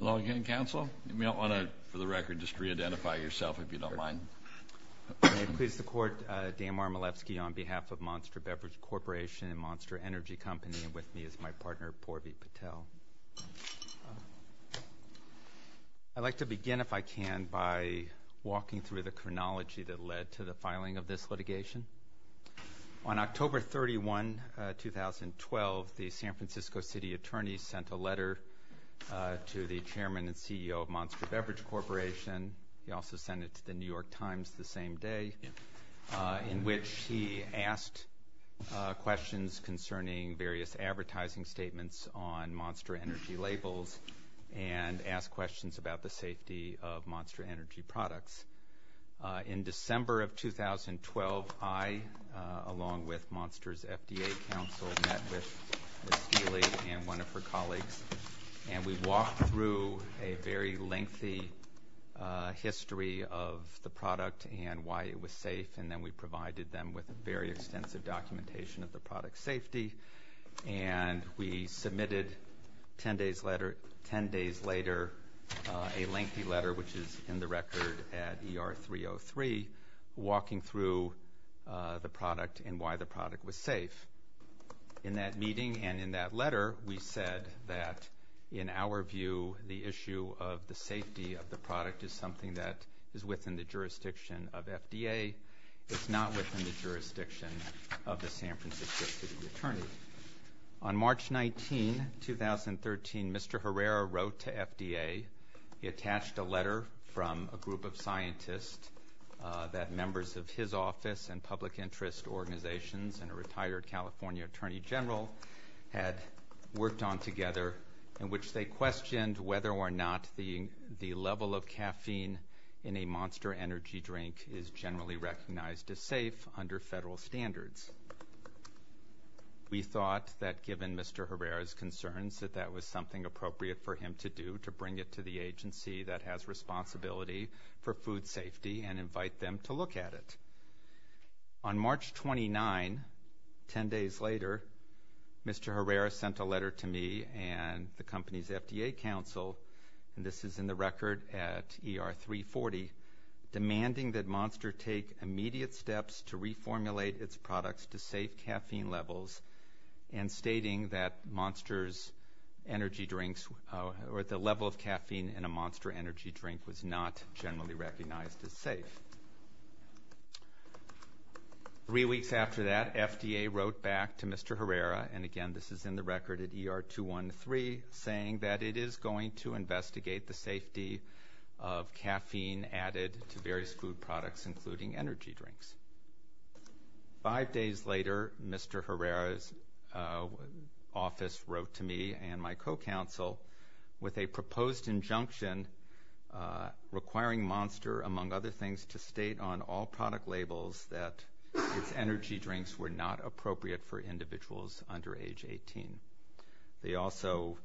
Hello again, Counsel. You may want to, for the record, just re-identify yourself, if you don't mind. May it please the Court, Dan Marmolevsky on behalf of Monster Beverage Corporation and Monster Energy Company, and with me is my partner, Porvi Patel. I'd like to begin, if I can, by walking through the chronology that led to the filing of this litigation. On October 31, 2012, the San Francisco City Attorney sent a letter to the Chairman and CEO of Monster Beverage Corporation. He also sent it to the New York Times the same day, in which he asked questions concerning various advertising statements on Monster Energy labels and asked questions about the safety of Monster Energy products. In December of 2012, I, along with Monster's FDA counsel, met with Steely and one of her colleagues, and we walked through a very lengthy history of the product and why it was safe, and then we provided them with very extensive documentation of the product's safety. And we submitted 10 days later a lengthy letter, which is in the record at ER 303, walking through the product and why the product was safe. In that meeting and in that letter, we said that, in our view, the issue of the safety of the product is something that is within the jurisdiction of FDA. It's not within the jurisdiction of the San Francisco City Attorney. On March 19, 2013, Mr. Herrera wrote to FDA. He attached a letter from a group of scientists that members of his office and public interest organizations and a retired California Attorney General had worked on together, in which they questioned whether or not the level of caffeine in a Monster Energy drink is generally recognized as safe under federal standards. We thought that, given Mr. Herrera's concerns, that that was something appropriate for him to do, to bring it to the agency that has responsibility for food safety and invite them to look at it. On March 29, 10 days later, Mr. Herrera sent a letter to me and the company's FDA counsel, and this is in the record at ER 340, demanding that Monster take immediate steps to reformulate its products to safe caffeine levels and stating that the level of caffeine in a Monster Energy drink was not generally recognized as safe. Three weeks after that, FDA wrote back to Mr. Herrera, and again, this is in the record at ER 213, saying that it is going to investigate the safety of caffeine added to various food products, including energy drinks. Five days later, Mr. Herrera's office wrote to me and my co-counsel with a proposed injunction requiring Monster, among other things, to state on all product labels that its energy drinks were not appropriate for individuals under age 18. They also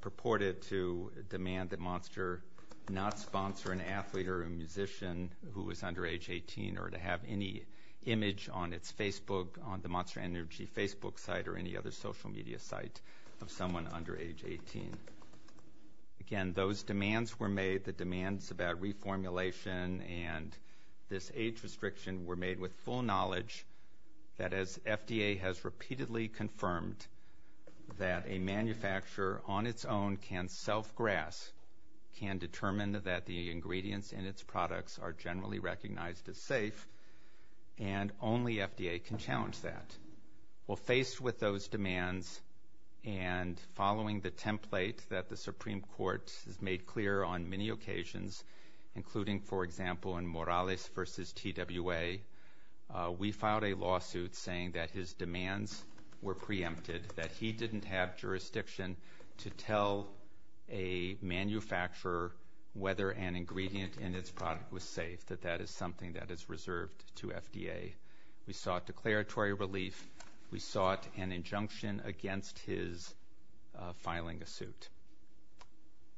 purported to demand that Monster not sponsor an athlete or a musician who was under age 18 or to have any image on its Facebook, on the Monster Energy Facebook site or any other social media site of someone under age 18. Again, those demands were made, the demands about reformulation and this age restriction were made with full knowledge that as FDA has repeatedly confirmed that a manufacturer on its own can self-grasp, can determine that the ingredients in its products are generally recognized as safe, and only FDA can challenge that. Well, faced with those demands and following the template that the Supreme Court has made clear on many occasions, including, for example, in Morales v. TWA, we filed a lawsuit saying that his demands were preempted, that he didn't have jurisdiction to tell a manufacturer whether an ingredient in its product was safe, that that is something that is reserved to FDA. We sought declaratory relief. We sought an injunction against his filing a suit.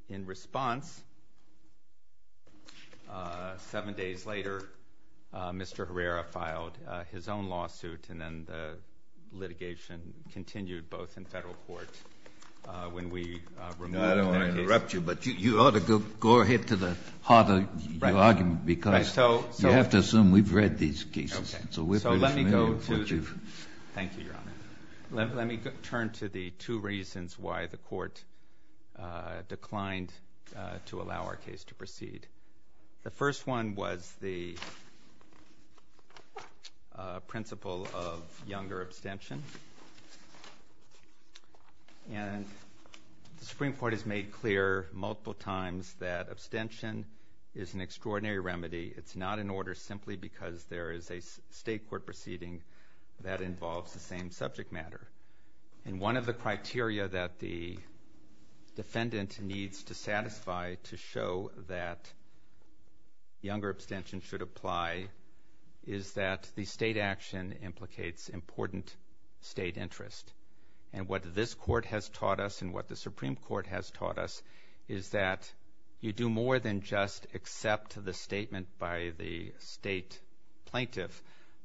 In response, seven days later, Mr. Herrera filed his own lawsuit, and then the litigation continued both in federal court when we removed that case. No, I don't want to interrupt you, but you ought to go ahead to the heart of your argument, because you have to assume we've read these cases. Okay. So let me go to the... Thank you, Your Honor. Let me turn to the two reasons why the Court declined to allow our case to proceed. The first one was the principle of younger abstention. And the Supreme Court has made clear multiple times that abstention is an extraordinary remedy. It's not an order simply because there is a state court proceeding that involves the same subject matter. And one of the criteria that the defendant needs to satisfy to show that younger abstention should apply is that the state action implicates important state interest. And what this Court has taught us and what the Supreme Court has taught us is that you do more than just accept the statement by the state plaintiff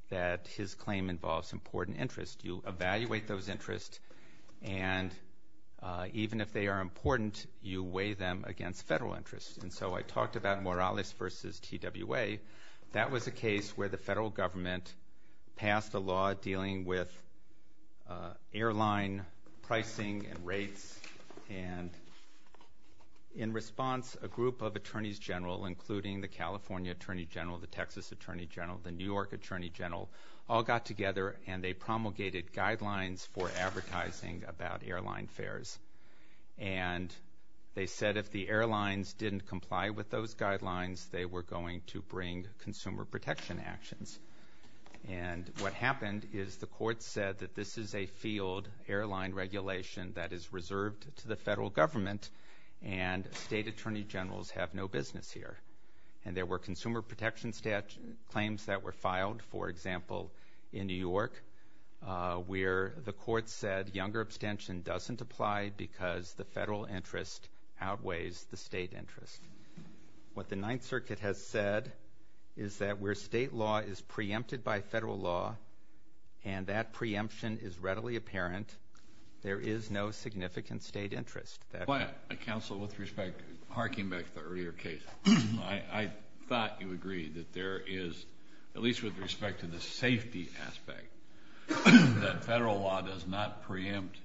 that his claim involves important interest. You evaluate those interests, and even if they are important, you weigh them against federal interest. And so I talked about Morales v. TWA. That was a case where the federal government passed a law dealing with airline pricing and rates and in response, a group of attorneys general, including the California Attorney General, the Texas Attorney General, the New York Attorney General, all got together and they promulgated guidelines for advertising about airline fares. And they said if the airlines didn't comply with those guidelines, they were going to bring consumer protection actions. And what happened is the court said that this is a field airline regulation that is reserved to the federal government and state attorney generals have no business here. And there were consumer protection claims that were filed, for example, in New York, where the court said younger abstention doesn't apply because the federal interest outweighs the state interest. What the Ninth Circuit has said is that where state law is preempted by federal law and that preemption is readily apparent, there is no significant state interest. Counsel, with respect, harking back to the earlier case, I thought you agreed that there is, at least with respect to the safety aspect, that federal law does not preempt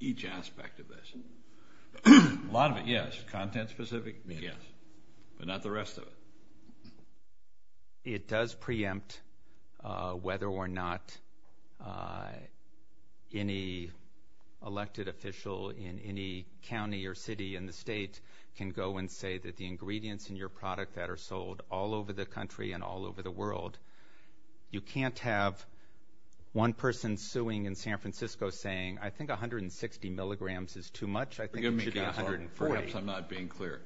each aspect of this. A lot of it, yes. Content specific? Yes. But not the rest of it. It does preempt whether or not any elected official in any county or city in the state can go and say that the ingredients in your product that are sold all over the country and all over the world. You can't have one person suing in San Francisco saying, I think 160 milligrams is too much. I think it should be 140. Forgive me, Counsel. Perhaps I'm not being clear.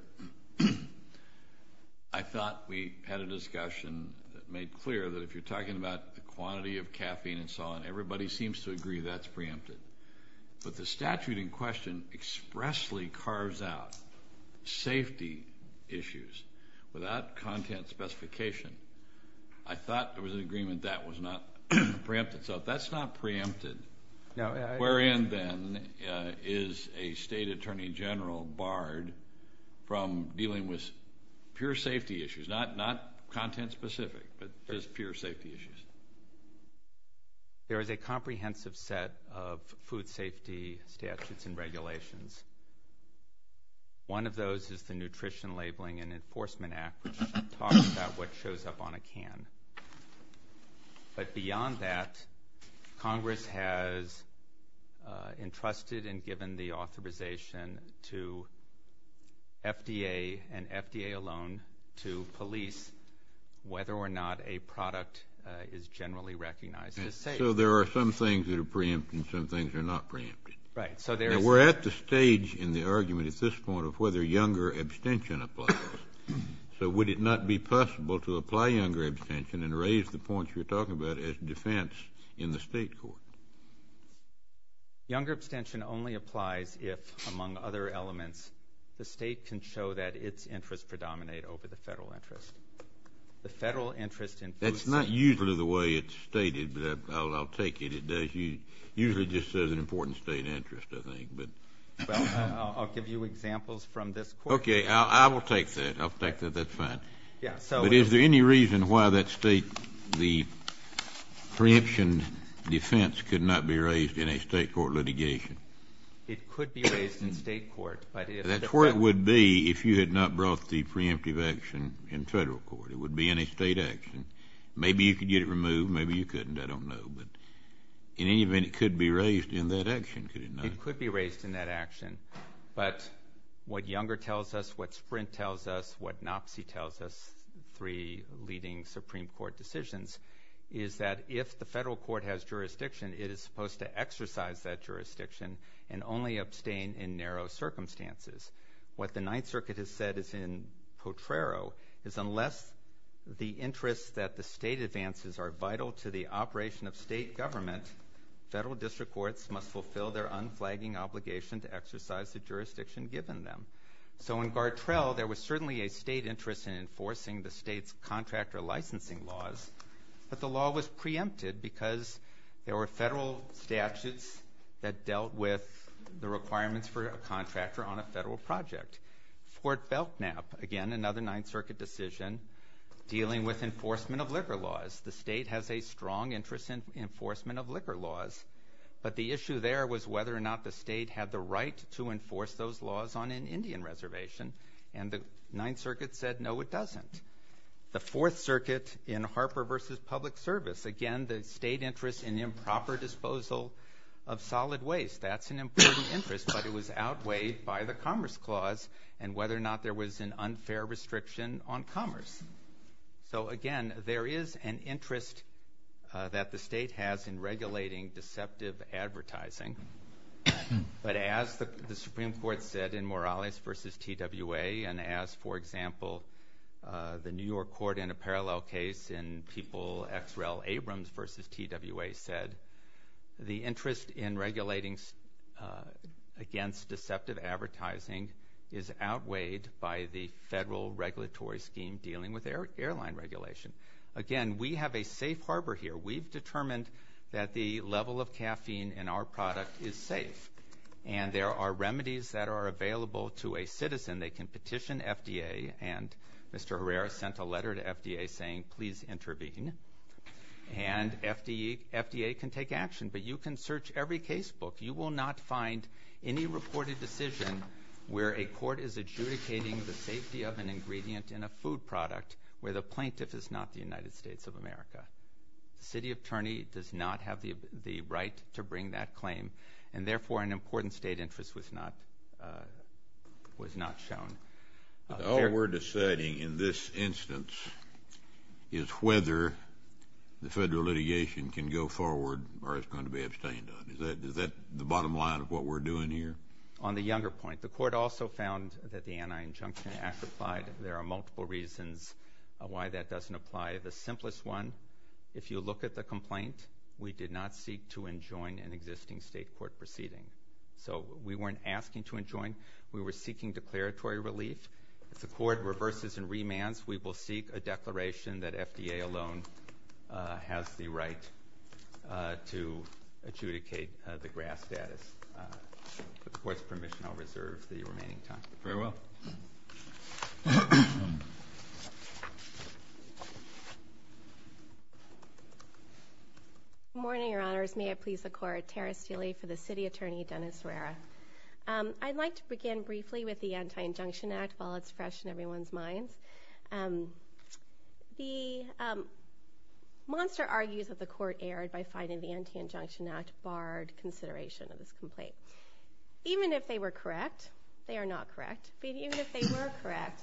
I thought we had a discussion that made clear that if you're talking about the quantity of caffeine and so on, everybody seems to agree that's preempted. But the statute in question expressly carves out safety issues without content specification. I thought there was an agreement that was not preempted. So if that's not preempted, where in then is a state attorney general barred from dealing with pure safety issues, not content specific, but just pure safety issues? There is a comprehensive set of food safety statutes and regulations. One of those is the Nutrition Labeling and Enforcement Act, which talks about what shows up on a can. But beyond that, Congress has entrusted and given the authorization to FDA and FDA alone to police whether or not a product is generally recognized as safe. So there are some things that are preempted and some things that are not preempted. Right. Now, we're at the stage in the argument at this point of whether younger abstention applies. So would it not be possible to apply younger abstention and raise the points you're talking about as defense in the state court? Younger abstention only applies if, among other elements, the state can show that its interests predominate over the federal interest. The federal interest in food safety. That's not usually the way it's stated, but I'll take it. Usually it just says an important state interest, I think. Well, I'll give you examples from this court. Okay. I will take that. I'll take that. That's fine. But is there any reason why that state, the preemption defense, could not be raised in a state court litigation? It could be raised in state court. That's where it would be if you had not brought the preemptive action in federal court. It would be in a state action. Maybe you could get it removed. Maybe you couldn't. I don't know. But in any event, it could be raised in that action, could it not? It could be raised in that action. But what younger tells us, what Sprint tells us, what NOPC tells us, three leading Supreme Court decisions, is that if the federal court has jurisdiction, it is supposed to exercise that jurisdiction and only abstain in narrow circumstances. What the Ninth Circuit has said is in Potrero, is unless the interests that the state advances are vital to the operation of state government, federal district courts must fulfill their unflagging obligation to exercise the jurisdiction given them. So in Gartrell, there was certainly a state interest in enforcing the state's contractor licensing laws, but the law was preempted because there were federal statutes that dealt with the requirements for a contractor on a federal project. Fort Belknap, again, another Ninth Circuit decision, dealing with enforcement of liquor laws. The state has a strong interest in enforcement of liquor laws, but the issue there was whether or not the state had the right to enforce those laws on an Indian reservation, and the Ninth Circuit said no, it doesn't. The Fourth Circuit in Harper v. Public Service, again, the state interest in improper disposal of solid waste, that's an important interest, but it was outweighed by the Commerce Clause and whether or not there was an unfair restriction on commerce. So again, there is an interest that the state has in regulating deceptive advertising, but as the Supreme Court said in Morales v. TWA, and as, for example, the New York court in a parallel case in People v. Abrams v. TWA said, the interest in regulating against deceptive advertising is outweighed by the federal regulatory scheme dealing with airline regulation. Again, we have a safe harbor here. We've determined that the level of caffeine in our product is safe, and there are remedies that are available to a citizen. They can petition FDA, and Mr. Herrera sent a letter to FDA saying, please intervene, and FDA can take action, but you can search every casebook. You will not find any reported decision where a court is adjudicating the safety of an ingredient in a food product where the plaintiff is not the United States of America. The city attorney does not have the right to bring that claim, and therefore an important state interest was not shown. All we're deciding in this instance is whether the federal litigation can go forward or is going to be abstained on. Is that the bottom line of what we're doing here? On the younger point, the court also found that the anti-injunction act applied. There are multiple reasons why that doesn't apply. The simplest one, if you look at the complaint, we did not seek to enjoin an existing state court proceeding. So we weren't asking to enjoin. We were seeking declaratory relief. If the court reverses and remands, we will seek a declaration that FDA alone has the right to adjudicate the GRAS status. With the court's permission, I'll reserve the remaining time. Very well. Good morning, Your Honors. May it please the court, Tara Steele for the city attorney, Dennis Herrera. I'd like to begin briefly with the anti-injunction act while it's fresh in everyone's minds. The monster argues that the court erred by finding the anti-injunction act barred consideration of this complaint. Even if they were correct, they are not correct, but even if they were correct,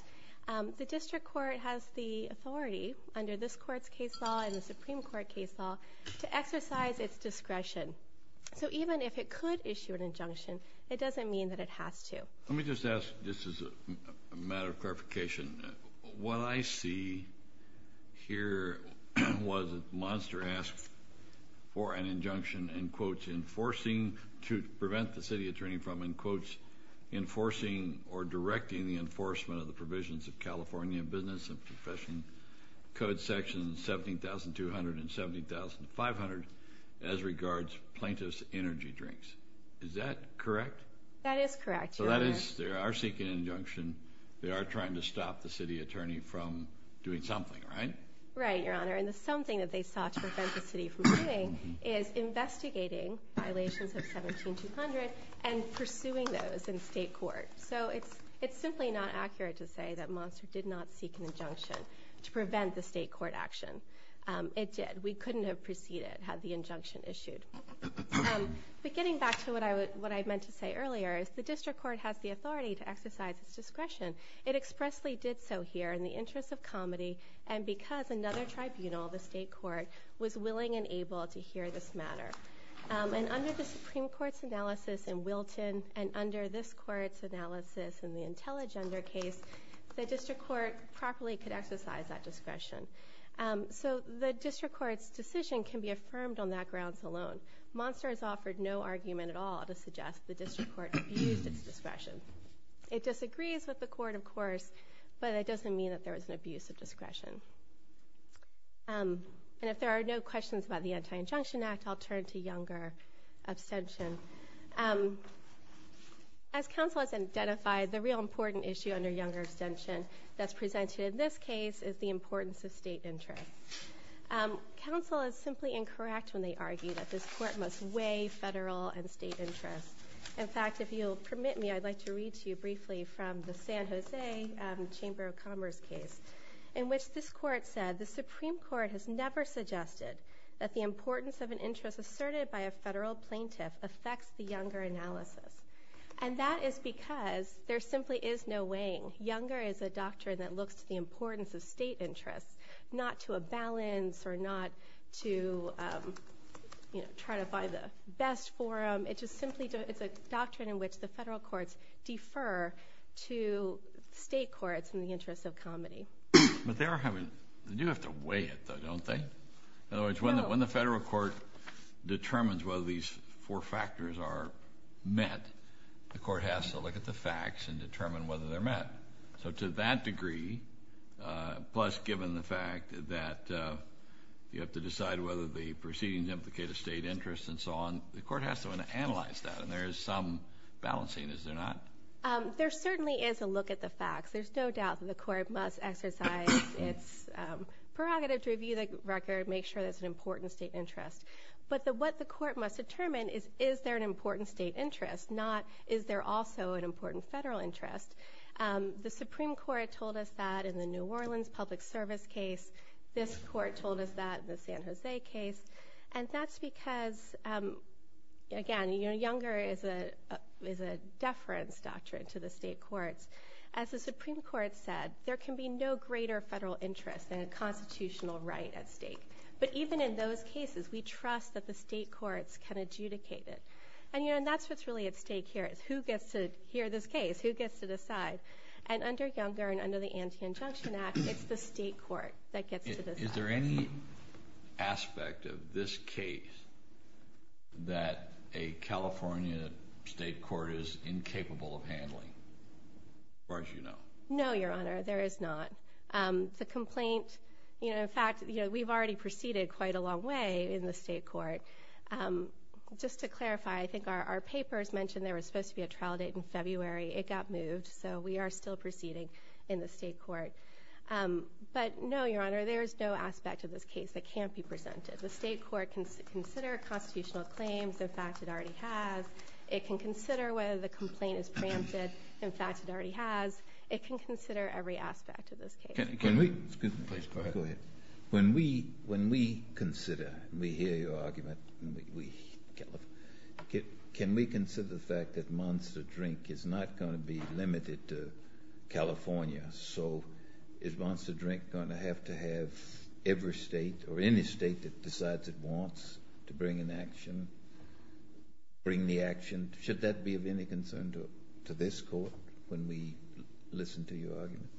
the district court has the authority under this court's case law and the Supreme Court case law to exercise its discretion. So even if it could issue an injunction, it doesn't mean that it has to. Let me just ask, just as a matter of clarification, what I see here was that the monster asked for an injunction, in quotes, enforcing to prevent the city attorney from, in quotes, enforcing or directing the enforcement of the provisions of California business and professional code section 17,200 and 17,500 as regards plaintiff's energy drinks. Is that correct? That is correct, Your Honor. So that is, they are seeking an injunction. They are trying to stop the city attorney from doing something, right? Right, Your Honor. And the something that they sought to prevent the city from doing is investigating violations of 17,200 and pursuing those in state court. So it's simply not accurate to say that Monster did not seek an injunction to prevent the state court action. It did. We couldn't have proceeded had the injunction issued. But getting back to what I meant to say earlier is the district court has the authority to exercise its discretion. It expressly did so here in the interest of comedy and because another tribunal, the state court, was willing and able to hear this matter. And under the Supreme Court's analysis in Wilton and under this court's analysis in the Intelligender case, the district court properly could exercise that discretion. So the district court's decision can be affirmed on that grounds alone. Monster has offered no argument at all to suggest the district court abused its discretion. It disagrees with the court, of course, but it doesn't mean that there was an abuse of discretion. And if there are no questions about the Anti-Injunction Act, I'll turn to Younger abstention. As counsel has identified, the real important issue under Younger abstention that's presented in this case is the importance of state interest. Counsel is simply incorrect when they argue that this court must weigh federal and state interest. In fact, if you'll permit me, I'd like to read to you briefly from the San Jose Chamber of Commerce case in which this court said the Supreme Court has never suggested that the importance of an interest asserted by a federal plaintiff affects the Younger analysis. And that is because there simply is no weighing. Younger is a doctrine that looks to the importance of state interest, not to a balance or not to try to find the best forum. It's a doctrine in which the federal courts defer to state courts in the interest of comity. But they do have to weigh it, though, don't they? In other words, when the federal court determines whether these four factors are met, the court has to look at the facts and determine whether they're met. So to that degree, plus given the fact that you have to decide whether the proceedings implicate a state interest and so on, the court has to analyze that, and there is some balancing, is there not? There certainly is a look at the facts. There's no doubt that the court must exercise its prerogative to review the record, make sure there's an important state interest. But what the court must determine is, is there an important state interest, not is there also an important federal interest? The Supreme Court told us that in the New Orleans public service case. This court told us that in the San Jose case. And that's because, again, Younger is a deference doctrine to the state courts. As the Supreme Court said, there can be no greater federal interest than a constitutional right at stake. But even in those cases, we trust that the state courts can adjudicate it. And that's what's really at stake here is who gets to hear this case, who gets to decide. And under Younger and under the Anti-Injunction Act, it's the state court that gets to decide. Is there any aspect of this case that a California state court is incapable of handling, as far as you know? No, Your Honor, there is not. The complaint, in fact, we've already proceeded quite a long way in the state court. Just to clarify, I think our papers mentioned there was supposed to be a trial date in February. It got moved, so we are still proceeding in the state court. But no, Your Honor, there is no aspect of this case that can't be presented. The state court can consider constitutional claims. In fact, it already has. It can consider whether the complaint is preempted. In fact, it already has. It can consider every aspect of this case. Excuse me. Please, go ahead. Go ahead. When we consider, we hear your argument, can we consider the fact that Monster Drink is not going to be limited to California? So is Monster Drink going to have to have every state or any state that decides it wants to bring an action, bring the action? Should that be of any concern to this court when we listen to your argument?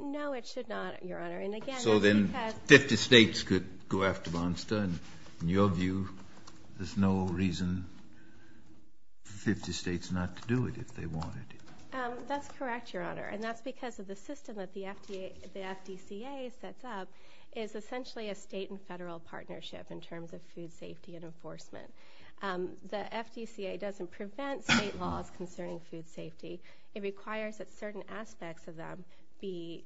No, it should not, Your Honor. And again, it's because — So then 50 states could go after Monster, and in your view, there's no reason for 50 states not to do it if they want it. That's correct, Your Honor. And that's because of the system that the FDCA sets up is essentially a state and federal partnership in terms of food safety and enforcement. The FDCA doesn't prevent state laws concerning food safety. It requires that certain aspects of them be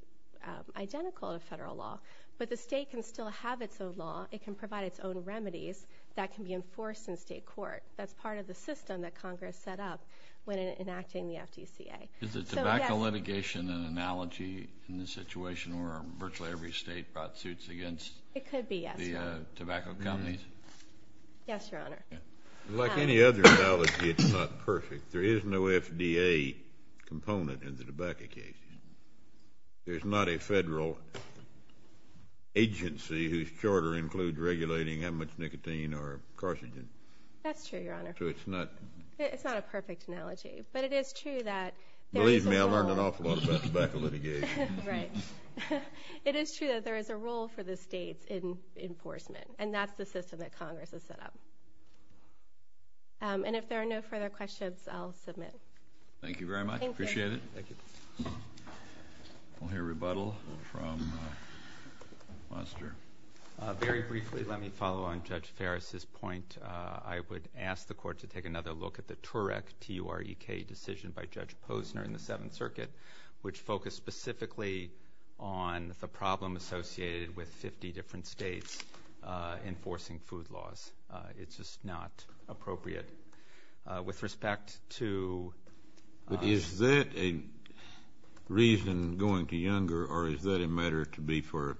identical to federal law. But the state can still have its own law. It can provide its own remedies that can be enforced in state court. That's part of the system that Congress set up when enacting the FDCA. Is the tobacco litigation an analogy in this situation where virtually every state brought suits against the tobacco companies? It could be, yes, Your Honor. Yes, Your Honor. Like any other analogy, it's not perfect. There is no FDA component in the tobacco cases. There's not a federal agency whose charter includes regulating how much nicotine or carcinogen. That's true, Your Honor. So it's not — It's not a perfect analogy. But it is true that — Believe me, I learned an awful lot about tobacco litigation. Right. It is true that there is a role for the states in enforcement. And that's the system that Congress has set up. And if there are no further questions, I'll submit. Thank you very much. Appreciate it. Thank you. We'll hear rebuttal from Monster. Very briefly, let me follow on Judge Ferris' point. I would ask the Court to take another look at the TUREK, T-U-R-E-K, decision by Judge Posner in the Seventh Circuit, which focused specifically on the problem associated with 50 different states enforcing food laws. It's just not appropriate. With respect to — Is that a reason going to Younger, or is that a matter to be for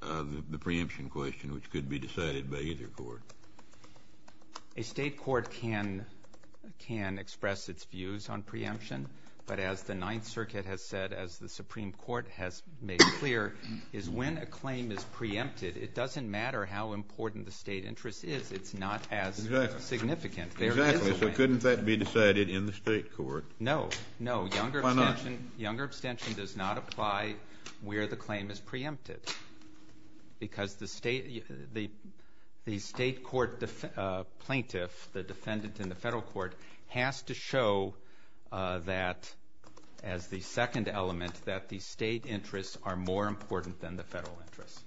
the preemption question, which could be decided by either court? A state court can express its views on preemption. But as the Ninth Circuit has said, as the Supreme Court has made clear, is when a claim is preempted, it doesn't matter how important the state interest is. It's not as significant. Exactly. So couldn't that be decided in the state court? No. No. Why not? Younger abstention does not apply where the claim is preempted, because the state court plaintiff, the defendant in the federal court, has to show that, as the second element, that the state interests are more important than the federal interests.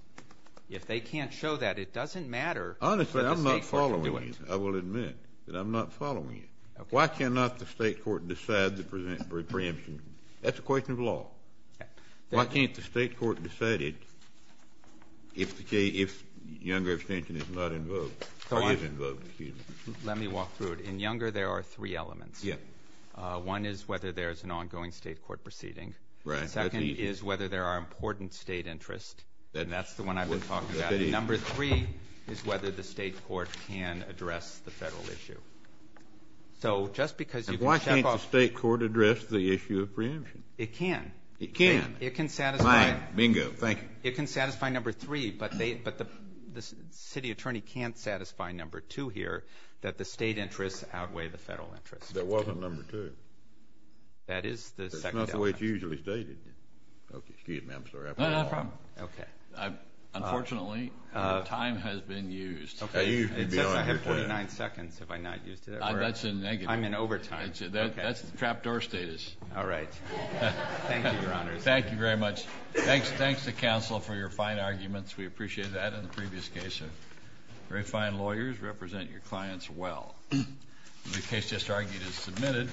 If they can't show that, it doesn't matter. Honestly, I'm not following you. I will admit that I'm not following you. Okay. Why cannot the state court decide the preemption? That's a question of law. Why can't the state court decide it if Younger abstention is not involved, or is involved, excuse me? Let me walk through it. In Younger, there are three elements. Yes. One is whether there is an ongoing state court proceeding. Right. That's easy. Second is whether there are important state interests. And that's the one I've been talking about. Number three is whether the state court can address the federal issue. So just because you can check off. Why can't the state court address the issue of preemption? It can. It can. It can satisfy. Bingo. Thank you. It can satisfy number three, but the city attorney can't satisfy number two here, that the state interests outweigh the federal interests. That wasn't number two. That is the second element. That's not the way it's usually stated. Okay. Excuse me. I'm sorry. No, no problem. Okay. Unfortunately, time has been used. I have 49 seconds if I'm not used to that. That's a negative. I'm in overtime. That's the trap door status. All right. Thank you, Your Honor. Thank you very much. Thanks to counsel for your fine arguments. We appreciate that. In the previous case, very fine lawyers represent your clients well. The case just argued is submitted.